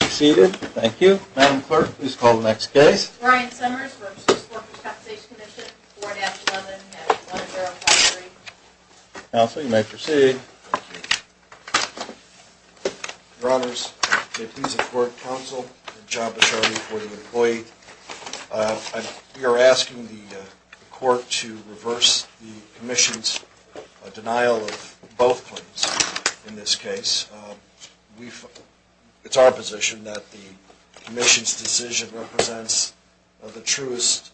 4-11-1053. Counsel, you may proceed. Your Honors, J.P. is a Court Counsel and I'm the job assortment for the employee. We are asking the Court to reverse the Commission's denial of both claims in this case. It's our position. It's our position that the Commission's decision represents the truest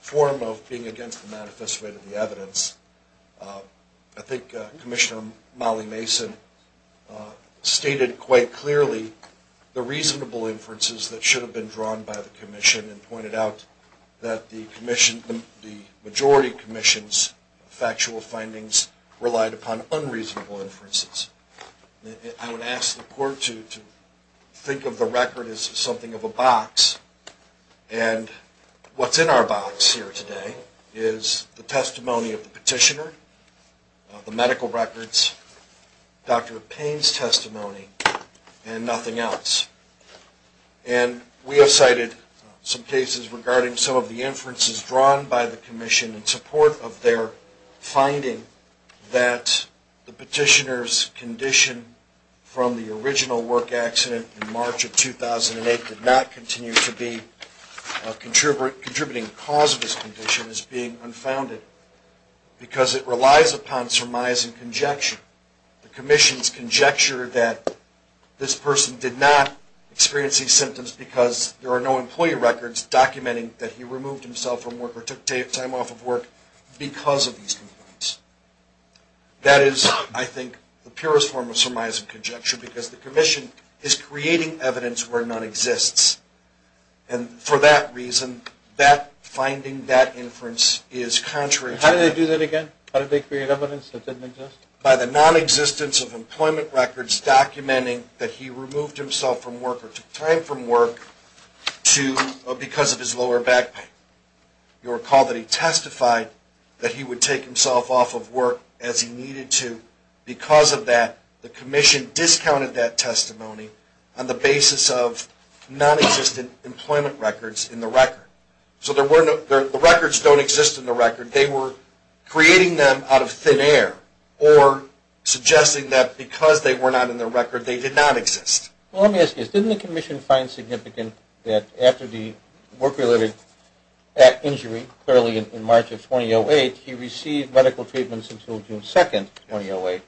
form of being against the manifest way to the evidence. I think Commissioner Molly Mason stated quite clearly the reasonable inferences that should have been drawn by the Commission and pointed out that the majority Commission's factual findings relied upon unreasonable inferences. I would ask the Court to think of the record as something of a box and what's in our box here today is the testimony of the petitioner, the medical records, Dr. Payne's testimony and nothing else. And we have cited some cases regarding some of the inferences drawn by the Commission in support of their finding that the petitioner's condition from the original work accident in March of 2008 did not continue to be a contributing cause of his condition as being unfounded because it relies upon surmise and conjecture. The Commission's conjecture that this person did not experience these symptoms because there are no employee records documenting that he removed himself from work or took time off of work because of these symptoms. That is, I think, the purest form of surmise and conjecture because the Commission is creating evidence where none exists and for that reason, that finding, that inference is contrary to that. How did they do that again? How did they create evidence that didn't exist? By the nonexistence of employment records documenting that he removed himself from work or took time from work because of his lower back pain. You'll recall that he testified that he would take himself off of work as he needed to. Because of that, the Commission discounted that testimony on the basis of nonexistent employment records in the record. So the records don't exist in the record, they were creating them out of thin air or suggesting that because they were not in the record, they did not exist. Well, let me ask you this. Didn't the Commission find significant that after the work-related injury, clearly in March of 2008, he received medical treatments until June 2nd, 2008,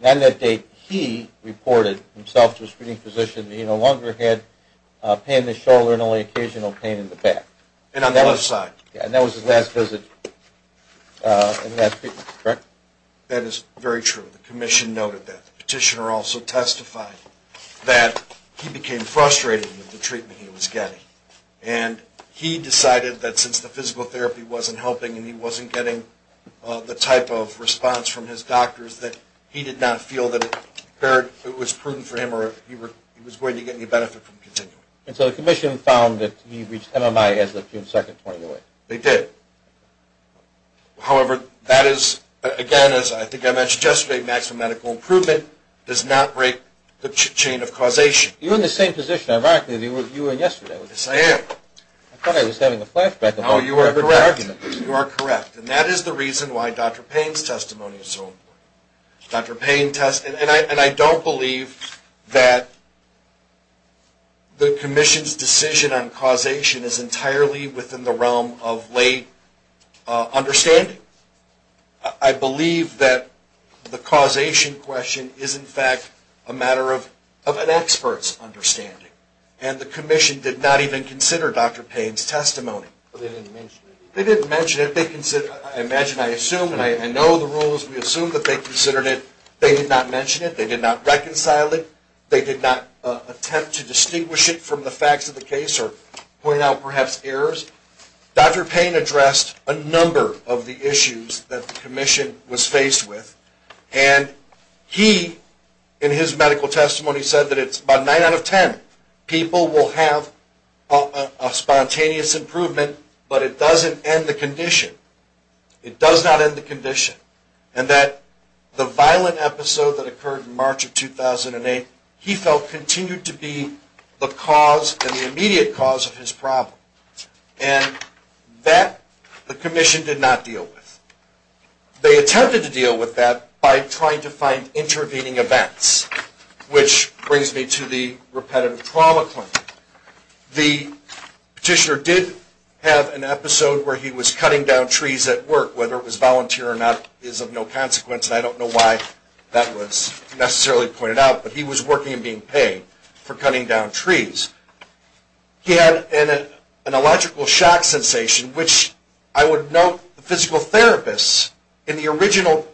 and on that date, he reported himself to a screening physician that he no longer had pain in the shoulder and only occasional pain in the back? And on the left side. And that was his last visit, correct? That is very true. The Commission noted that. The petitioner also testified that he became frustrated with the treatment he was getting. And he decided that since the physical therapy wasn't helping and he wasn't getting the type of response from his doctors that he did not feel that it was prudent for him or he was going to get any benefit from continuing. And so the Commission found that he reached MMI as of June 2nd, 2008? They did. However, that is, again, as I think I mentioned yesterday, maximum medical improvement does not break the chain of causation. You're in the same position. You were yesterday. Yes, I am. I thought I was having a flashback. Oh, you are correct. You are correct. And that is the reason why Dr. Payne's testimony is so important. Dr. Payne testified. And I don't believe that the Commission's decision on causation is entirely within the Commission's understanding. I believe that the causation question is, in fact, a matter of an expert's understanding. And the Commission did not even consider Dr. Payne's testimony. They didn't mention it. They didn't mention it. I imagine, I assume, and I know the rules, we assume that they considered it. They did not mention it. They did not reconcile it. They did not attempt to distinguish it from the facts of the case or point out perhaps errors. Dr. Payne addressed a number of the issues that the Commission was faced with. And he, in his medical testimony, said that it's about nine out of ten people will have a spontaneous improvement, but it doesn't end the condition. It does not end the condition. And that the violent episode that occurred in March of 2008, he felt continued to be the cause and the immediate cause of his problem. And that the Commission did not deal with. They attempted to deal with that by trying to find intervening events, which brings me to the repetitive trauma claim. The petitioner did have an episode where he was cutting down trees at work, whether it was volunteer or not is of no consequence, and I don't know why that was necessarily pointed out. But he was working and being paid for cutting down trees. He had an electrical shock sensation, which I would note the physical therapists in the original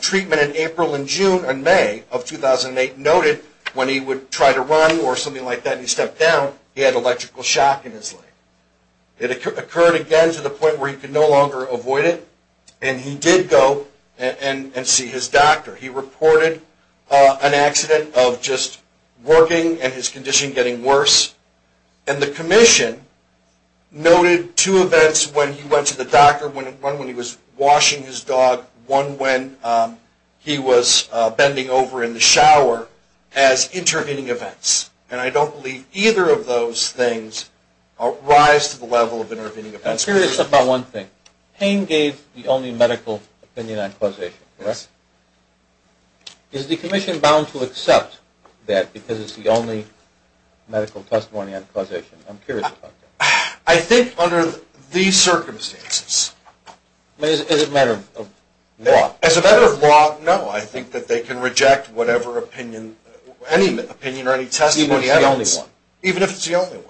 treatment in April and June and May of 2008 noted when he would try to run or something like that and he stepped down, he had electrical shock in his leg. It occurred again to the point where he could no longer avoid it, and he did go and see his doctor. He reported an accident of just working and his condition getting worse. And the Commission noted two events when he went to the doctor, one when he was washing his dog, one when he was bending over in the shower as intervening events. And I don't believe either of those things rise to the level of intervening events. I'm curious about one thing. Payne gave the only medical opinion on causation, correct? Is the Commission bound to accept that because it's the only medical testimony on causation? I'm curious about that. I think under these circumstances. As a matter of law? As a matter of law, no. I think that they can reject whatever opinion, any opinion or any testimony. Even if it's the only one. Even if it's the only one.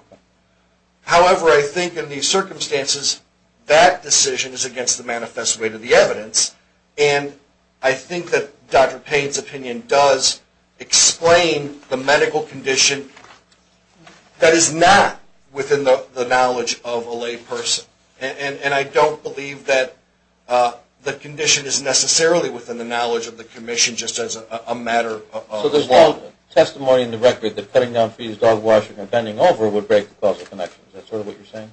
However, I think in these circumstances, that decision is against the manifest weight of the evidence, and I think that Dr. Payne's opinion does explain the medical condition that is not within the knowledge of a lay person. And I don't believe that the condition is necessarily within the knowledge of the Commission just as a matter of law. So there's no testimony in the record that cutting down for his dog washing or bending over would break the causal connection, is that sort of what you're saying?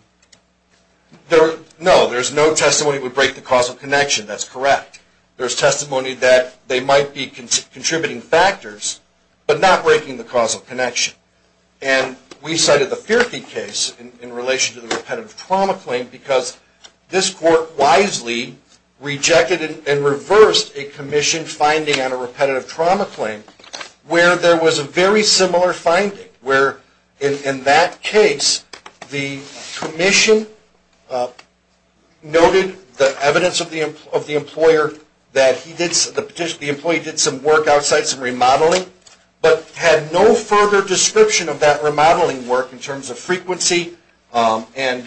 No, there's no testimony that would break the causal connection, that's correct. There's testimony that they might be contributing factors, but not breaking the causal connection. And we cited the Fierke case in relation to the repetitive trauma claim because this court wisely rejected and reversed a Commission finding on a repetitive trauma claim where there was a very similar finding, where in that case the Commission noted the evidence of the employer that the employee did some work outside, some remodeling, but had no further description of that remodeling work in terms of frequency and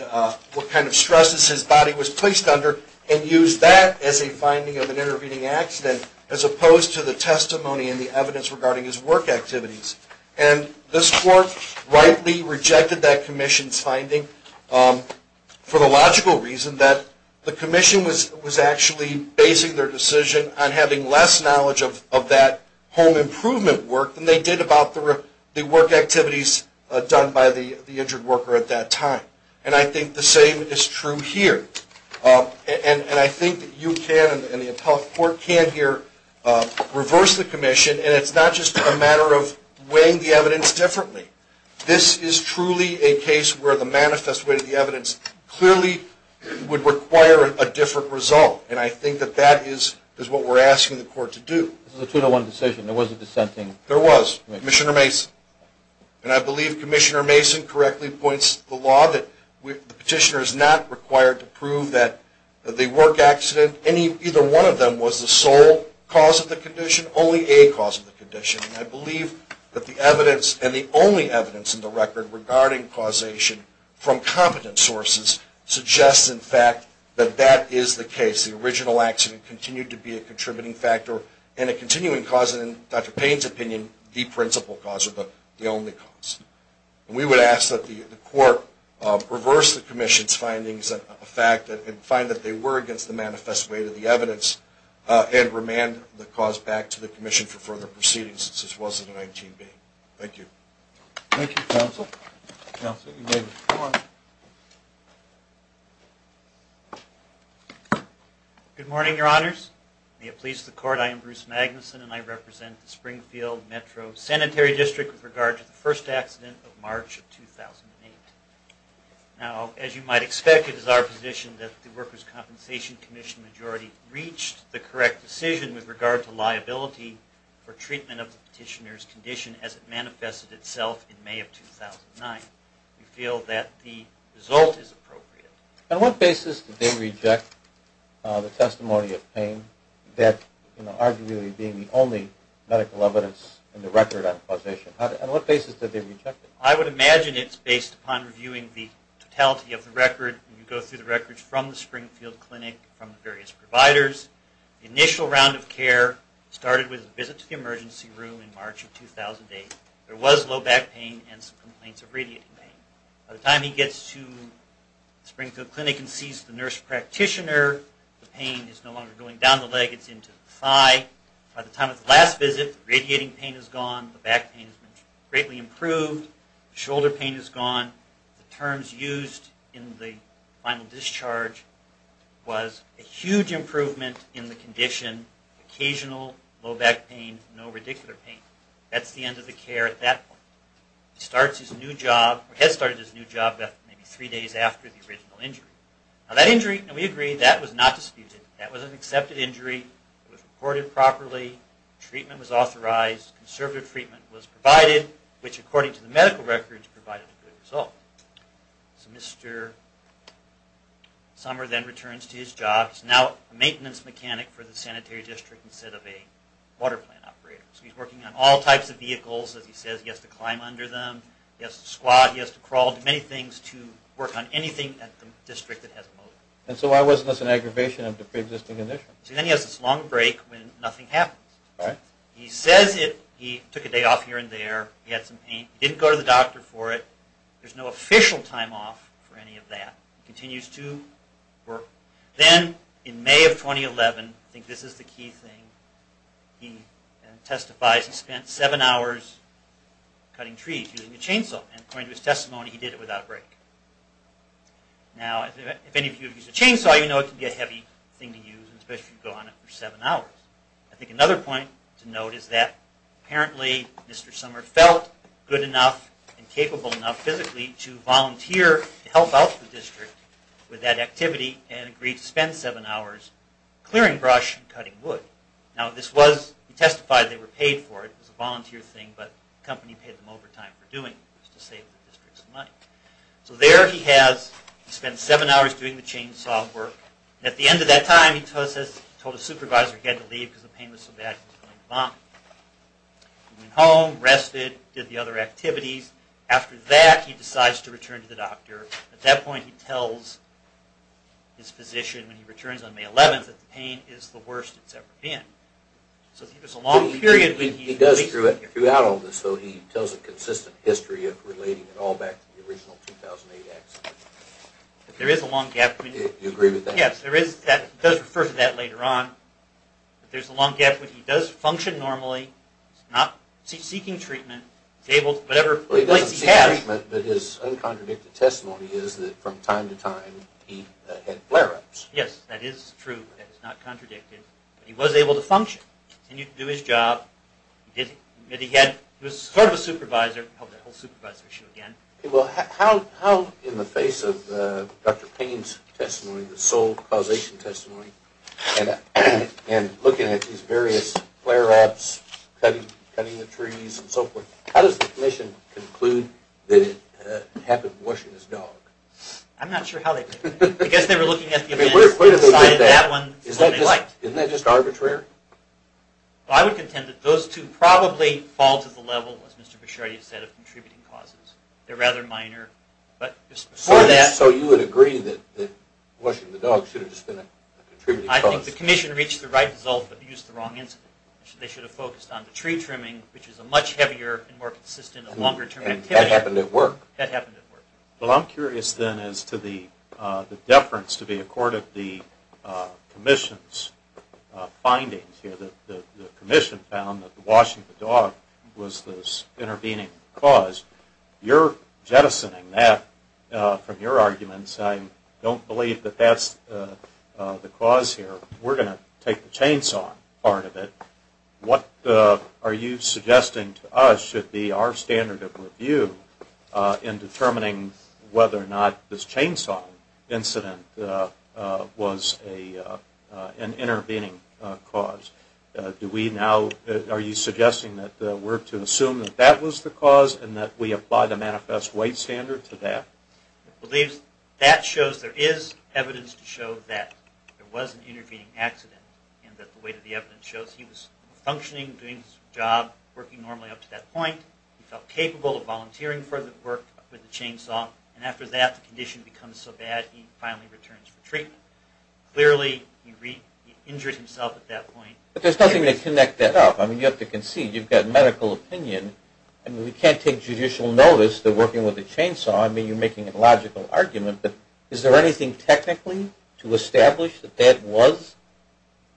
what kind of stresses his body was placed under, and used that as a finding of an intervening accident as opposed to the testimony and the evidence regarding his work activities. And this court rightly rejected that Commission's finding for the logical reason that the Commission was actually basing their decision on having less knowledge of that home improvement work than they did about the work activities done by the injured worker at that time. And I think the same is true here. And I think you can, and the appellate court can here, reverse the Commission, and it's not just a matter of weighing the evidence differently. This is truly a case where the manifest weight of the evidence clearly would require a different result, and I think that that is what we're asking the court to do. This is a 201 decision, there was a dissenting... There was, Commissioner Mason. And I believe Commissioner Mason correctly points to the law that the petitioner is not required to prove that the work accident, either one of them, was the sole cause of the condition, only a cause of the condition. And I believe that the evidence, and the only evidence in the record regarding causation from competent sources, suggests in fact that that is the case. The original accident continued to be a contributing factor and a continuing cause, and in Dr. Payne's opinion, the principal cause or the only cause. We would ask that the court reverse the Commission's findings and find that they were against the manifest weight of the evidence, and remand the cause back to the Commission for further proceedings, since this wasn't an ITB. Thank you. Thank you, Counsel. Counsel, you may be removed. Good morning, Your Honors. May it please the Court, I am Bruce Magnuson, and I represent the Springfield Metro Sanitary District with regard to the first accident of March of 2008. Now, as you might expect, it is our position that the Workers' Compensation Commission majority reached the correct decision with regard to liability for treatment of the petitioner's condition as it manifested itself in May of 2009. We feel that the result is appropriate. On what basis did they reject the testimony of Payne, that arguably being the only medical evidence in the record on causation? On what basis did they reject it? I would imagine it's based upon reviewing the totality of the record. You go through the records from the Springfield Clinic, from the various providers. The initial round of care started with a visit to the emergency room in March of 2008. There was low back pain and some complaints of radiating pain. By the time he gets to Springfield Clinic and sees the nurse practitioner, the pain is no longer going down the leg, it's into the thigh. By the time of the last visit, the radiating pain is gone, the back pain has been greatly improved, the shoulder pain is gone, the terms used in the final discharge was a huge improvement in the condition, occasional low back pain, no radicular pain. That's the end of the care at that point. He starts his new job, or has started his new job, maybe three days after the original injury. Now that injury, and we agree, that was not disputed. That was an accepted injury, it was reported properly, treatment was authorized, conservative treatment was provided, which according to the medical records, provided a good result. So Mr. Sommer then returns to his job, he's now a maintenance mechanic for the sanitary district instead of a water plant operator. So he's working on all types of vehicles, as he says, he has to climb under them, he has to squat, he has to crawl, many things to work on anything at the district that has a motor. And so why wasn't this an aggravation of the pre-existing condition? So then he has this long break when nothing happens. He says he took a day off here and there, he had some pain, he didn't go to the doctor for it, there's no official time off for any of that. He continues to work. Then in May of 2011, I think this is the key thing, he testifies he spent seven hours cutting trees using a chainsaw, and according to his testimony he did it without break. Now, if any of you have used a chainsaw, you know it can be a heavy thing to use, especially if you go on it for seven hours. I think another point to note is that apparently Mr. Sommer felt good enough and capable enough physically to volunteer to help out the district with that activity and agreed to spend seven hours clearing brush and cutting wood. Now this was, he testified they were paid for it, it was a volunteer thing, but the company paid them overtime for doing it to save the district some money. So there he has, he spent seven hours doing the chainsaw work, and at the end of that time he told his supervisor he had to leave because the pain was so bad he was going to vomit. He went home, rested, did the other activities, after that he decides to return to the doctor. At that point he tells his physician when he returns on May 11th that the pain is the worst it's ever been. So I think it's a long period. He does throughout all of this though, he tells a consistent history of relating it all back to the original 2008 accident. There is a long gap. Do you agree with that? Yes, there is. It does refer to that later on, but there's a long gap. He does function normally, he's not seeking treatment, he's able to whatever place he has. He doesn't seek treatment, but his uncontradicted testimony is that from time to time he had flare-ups. Yes, that is true, that is not contradicted, but he was able to function and he could do his job. He was sort of a supervisor, I hope that whole supervisor issue again. How in the face of Dr. Payne's testimony, the sole causation testimony, and looking at these various flare-ups, cutting the trees and so forth, how does the commission conclude that it happened washing his dog? I'm not sure how they do that. I guess they were looking at the events that incited that one so they liked. Isn't that just arbitrary? I would contend that those two probably fall to the level, as Mr. Bichardi said, of contributing causes. They're rather minor. So you would agree that washing the dog should have just been a contributing cause? I think the commission reached the right result, but used the wrong incident. They should have focused on the tree trimming, which is a much heavier and more consistent and longer term activity. And that happened at work. That happened at work. Well, I'm curious, then, as to the deference to be accorded the commission's findings. The commission found that washing the dog was this intervening cause. You're jettisoning that from your arguments. I don't believe that that's the cause here. We're going to take the chainsaw part of it. What are you suggesting to us should be our standard of review in determining whether or not this chainsaw incident was an intervening cause? Are you suggesting that we're to assume that that was the cause and that we apply the manifest weight standard to that? That shows there is evidence to show that there was an intervening accident and that the weight of the evidence shows he was functioning, doing his job, working normally up to that point. He felt capable of volunteering for the work with the chainsaw. And after that, the condition becomes so bad, he finally returns for treatment. Clearly, he injured himself at that point. But there's nothing to connect that up. I mean, you have to concede. You've got medical opinion. I mean, we can't take judicial notice that working with a chainsaw. I mean, you're making a logical argument. But is there anything technically to establish that that was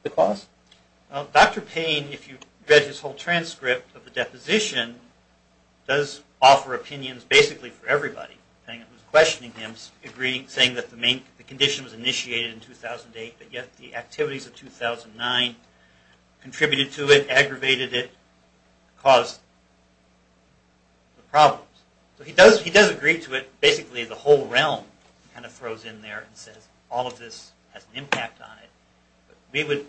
the cause? Dr. Payne, if you read his whole transcript of the deposition, does offer opinions basically for everybody. He was questioning him, saying that the condition was initiated in 2008, but yet the activities of 2009 contributed to it, aggravated it, caused the problems. So he does agree to it. Basically, the whole realm kind of throws in there and says, all of this has an impact on it. But we would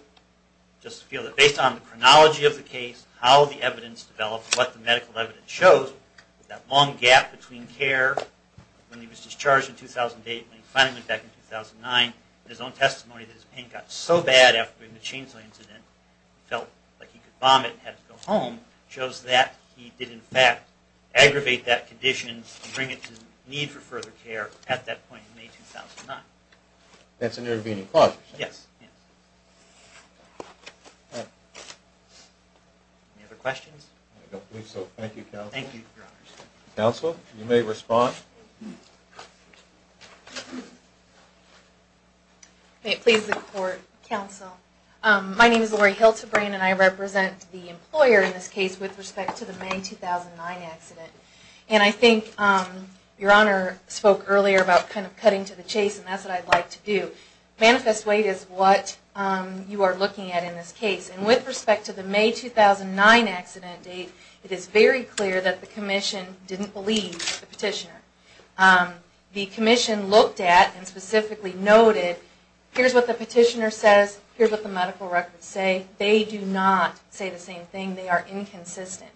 just feel that based on the chronology of the case, how the evidence developed, what the medical evidence shows, that long gap between care when he was discharged in 2008 and when he finally went back in 2009, and his own testimony that his pain got so bad after being in a chainsaw incident, he felt like he could vomit and had to go home, shows that he did, in fact, aggravate that condition and bring it to need for further care at that point in May 2009. That's an intervening clause. Yes. Any other questions? I don't believe so. Thank you, Counsel. Thank you, Your Honors. Counsel, you may respond. May it please the Court, Counsel. My name is Lori Hiltabrain, and I represent the employer in this case with respect to the May 2009 accident. And I think Your Honor spoke earlier about kind of cutting to the chase, and that's what I'd like to do. Manifest weight is what you are looking at in this case. And with respect to the May 2009 accident date, it is very clear that the Commission didn't believe the petitioner. The Commission looked at and specifically noted, here's what the petitioner says, here's what the medical records say. They do not say the same thing. They are inconsistent.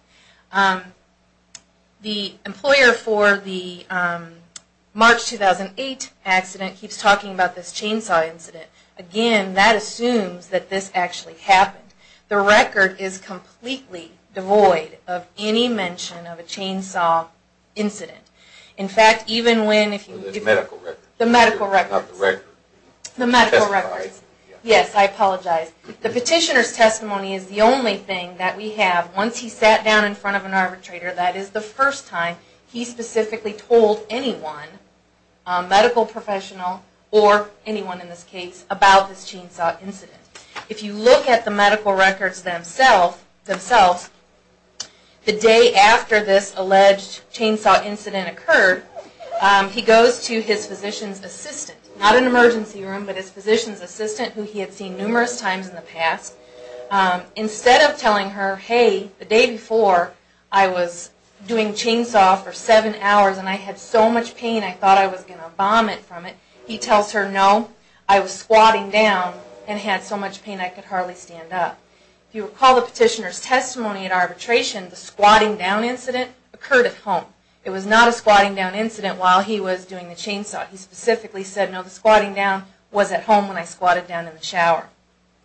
The employer for the March 2008 accident keeps talking about this chainsaw incident. Again, that assumes that this actually happened. The record is completely devoid of any mention of a chainsaw incident. In fact, even when... The medical records. The medical records. Not the record. The medical records. Testifies. Yes, I apologize. The petitioner's testimony is the only thing that we have. Once he sat down in front of an arbitrator, that is the first time he specifically told anyone, a medical professional or anyone in this case, about this chainsaw incident. If you look at the medical records themselves, the day after this alleged chainsaw incident occurred, he goes to his physician's assistant. Not an emergency room, but his physician's assistant who he had seen numerous times in the past. Instead of telling her, hey, the day before I was doing chainsaw for seven hours and I had so much pain I thought I was going to vomit from it, he tells her, no, I was squatting down and had so much pain I could hardly stand up. If you recall the petitioner's testimony at arbitration, the squatting down incident occurred at home. It was not a squatting down incident while he was doing the chainsaw. He specifically said, no, the squatting down was at home when I squatted down in the shower.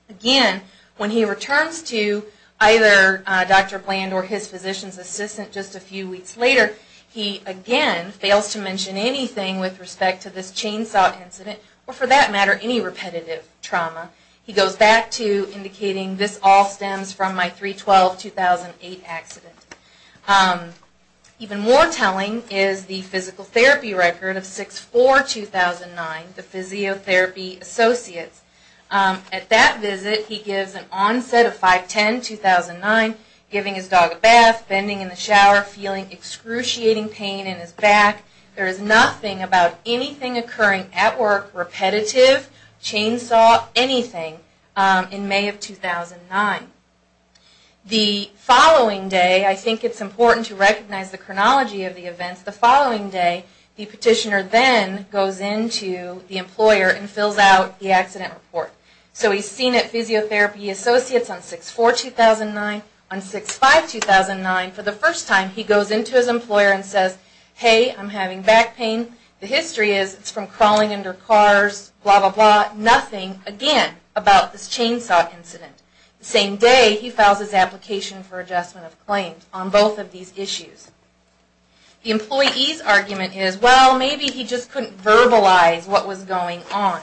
Again, when he returns to either Dr. Bland or his physician's assistant just a few weeks later, he again fails to mention anything with respect to this chainsaw incident or for that matter any repetitive trauma. He goes back to indicating this all stems from my 3-12-2008 accident. Even more telling is the physical therapy record of 6-4-2009, the physiotherapy associates. At that visit he gives an onset of 5-10-2009, giving his dog a bath, bending in the shower, feeling excruciating pain in his back. There is nothing about anything occurring at work, repetitive, chainsaw, anything in May of 2009. The following day, I think it's important to recognize the chronology of the events, the following day the petitioner then goes into the employer and fills out the accident report. So he's seen at physiotherapy associates on 6-4-2009, on 6-5-2009 for the first time he goes into his employer and says, hey, I'm having back pain. The history is it's from crawling under cars, blah, blah, blah, nothing again about this chainsaw incident. The same day, he files his application for adjustment of claims on both of these issues. The employee's argument is, well, maybe he just couldn't verbalize what was going on.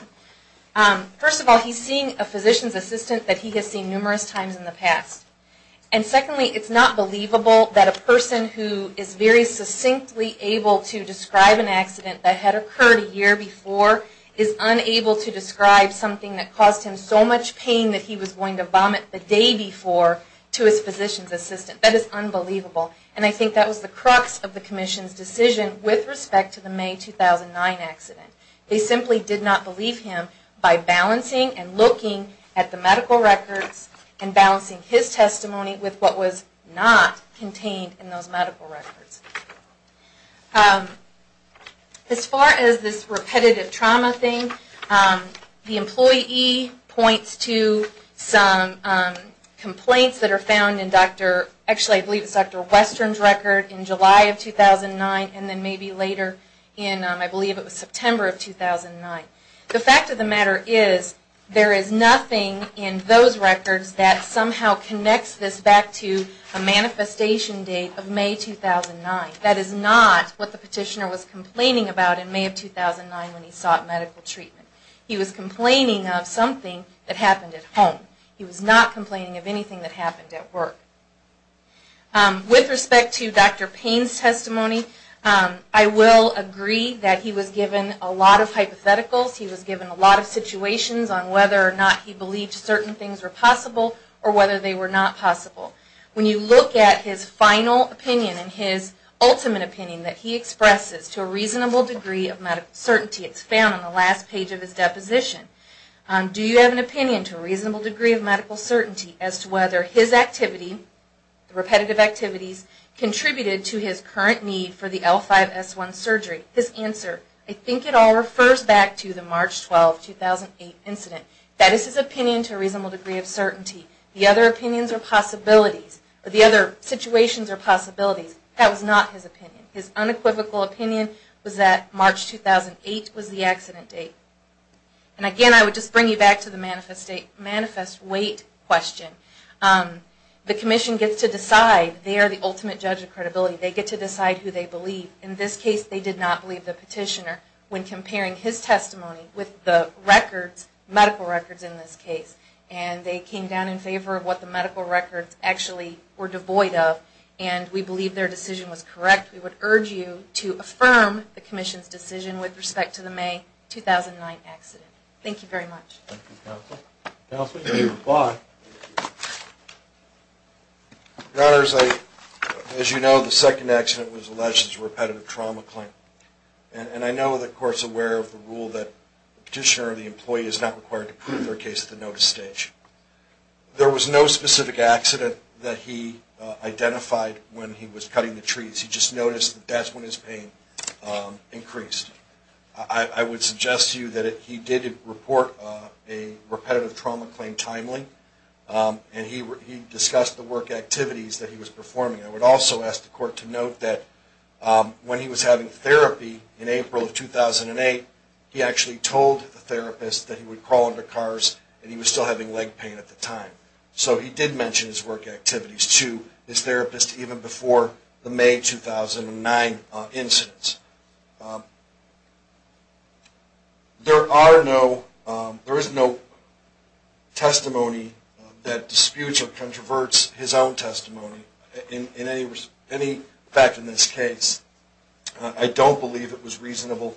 First of all, he's seeing a physician's assistant that he has seen numerous times in the past. And secondly, it's not believable that a person who is very succinctly able to describe an accident that had occurred a year before is unable to describe something that caused him so much pain that he was going to vomit the day before to his physician's assistant. That is unbelievable. And I think that was the crux of the Commission's decision with respect to the May 2009 accident. They simply did not believe him by balancing and looking at the medical records and balancing his testimony with what was not contained in those medical records. As far as this repetitive trauma thing, the employee points to some complaints that are found in Dr., actually I believe it's Dr. Western's record in July of 2009 and then maybe later in, I believe it was September of 2009. The fact of the matter is there is nothing in those records that somehow connects this back to a manifestation date of May 2009. That is not what the petitioner was complaining about in May of 2009 when he sought medical treatment. He was complaining of something that happened at home. He was not complaining of anything that happened at work. With respect to Dr. Payne's testimony, I will agree that he was given a lot of hypotheticals. He was given a lot of situations on whether or not he believed certain things were possible or whether they were not possible. When you look at his final opinion and his ultimate opinion that he expresses to a reasonable degree of medical certainty, it's found on the last page of his deposition. Do you have an opinion to a reasonable degree of medical certainty as to whether his activity, repetitive activities, contributed to his current need for the L5-S1 surgery? His answer, I think it all refers back to the March 12, 2008 incident. That is his opinion to a reasonable degree of certainty. The other opinions or possibilities, or the other situations or possibilities, that was not his opinion. His unequivocal opinion was that March 2008 was the accident date. And again, I would just bring you back to the manifest wait question. The Commission gets to decide. They are the ultimate judge of credibility. They get to decide who they believe. In this case, they did not believe the petitioner when comparing his testimony with the records medical records in this case. And they came down in favor of what the medical records actually were devoid of. And we believe their decision was correct. We would urge you to affirm the Commission's decision with respect to the May 2009 accident. Thank you very much. Thank you, Counsel. Counsel, do you reply? Your Honors, as you know, the second accident was alleged as a repetitive trauma claim. And I know the Court is aware of the rule that the petitioner or the employee is not required to prove their case at the notice stage. There was no specific accident that he identified when he was cutting the trees. He just noticed that that's when his pain increased. I would suggest to you that he did report a repetitive trauma claim timely. And he discussed the work activities that he was performing. I would also ask the Court to note that when he was having therapy in April of 2008, he actually told the therapist that he would crawl into cars and he was still having leg pain at the time. So he did mention his work activities to his therapist even before the May 2009 incident. There is no testimony that disputes or controverts his own testimony. In any fact in this case, I don't believe it was reasonable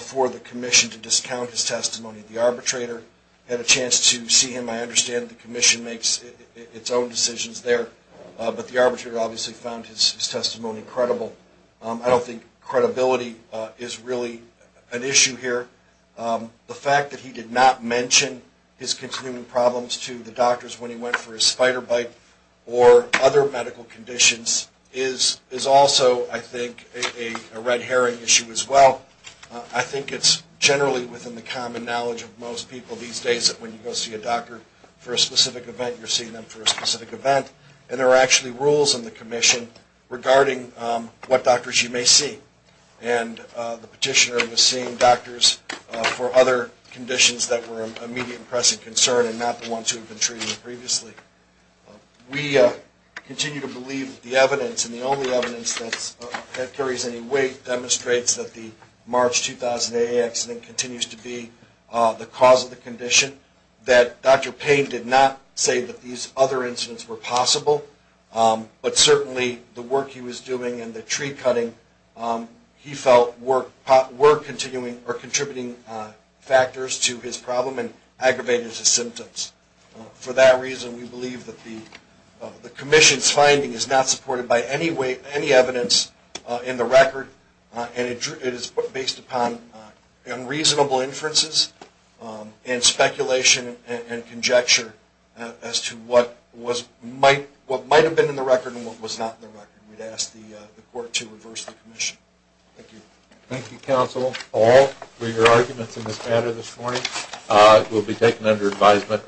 for the Commission to discount his testimony. The arbitrator had a chance to see him. I understand the Commission makes its own decisions there. But the arbitrator obviously found his testimony credible. I don't think credibility is really an issue here. The fact that he did not mention his continuing problems to the doctors when he went for his spider bite or other medical conditions is also, I think, a red herring issue as well. I think it's generally within the common knowledge of most people these days that when you go see a doctor for a specific event, you're seeing them for a specific event. And there are actually rules in the Commission regarding what doctors you may see. And the petitioner was seeing doctors for other conditions that were of immediate and pressing concern and not the ones who had been treated previously. We continue to believe the evidence and the only evidence that carries any weight demonstrates that the March 2008 accident continues to be the cause of the condition, that Dr. Payne did not say that these other incidents were possible, but certainly the work he was doing and the tree cutting, he felt were contributing factors to his problem and aggravated his symptoms. For that reason, we believe that the Commission's finding is not supported by any evidence in the record and it is based upon unreasonable inferences and speculation and conjecture as to what might have been in the record and what was not in the record. We'd ask the Court to reverse the Commission. Thank you. Thank you, Counsel. Paul, were your arguments in this matter this morning? It will be taken under advisement.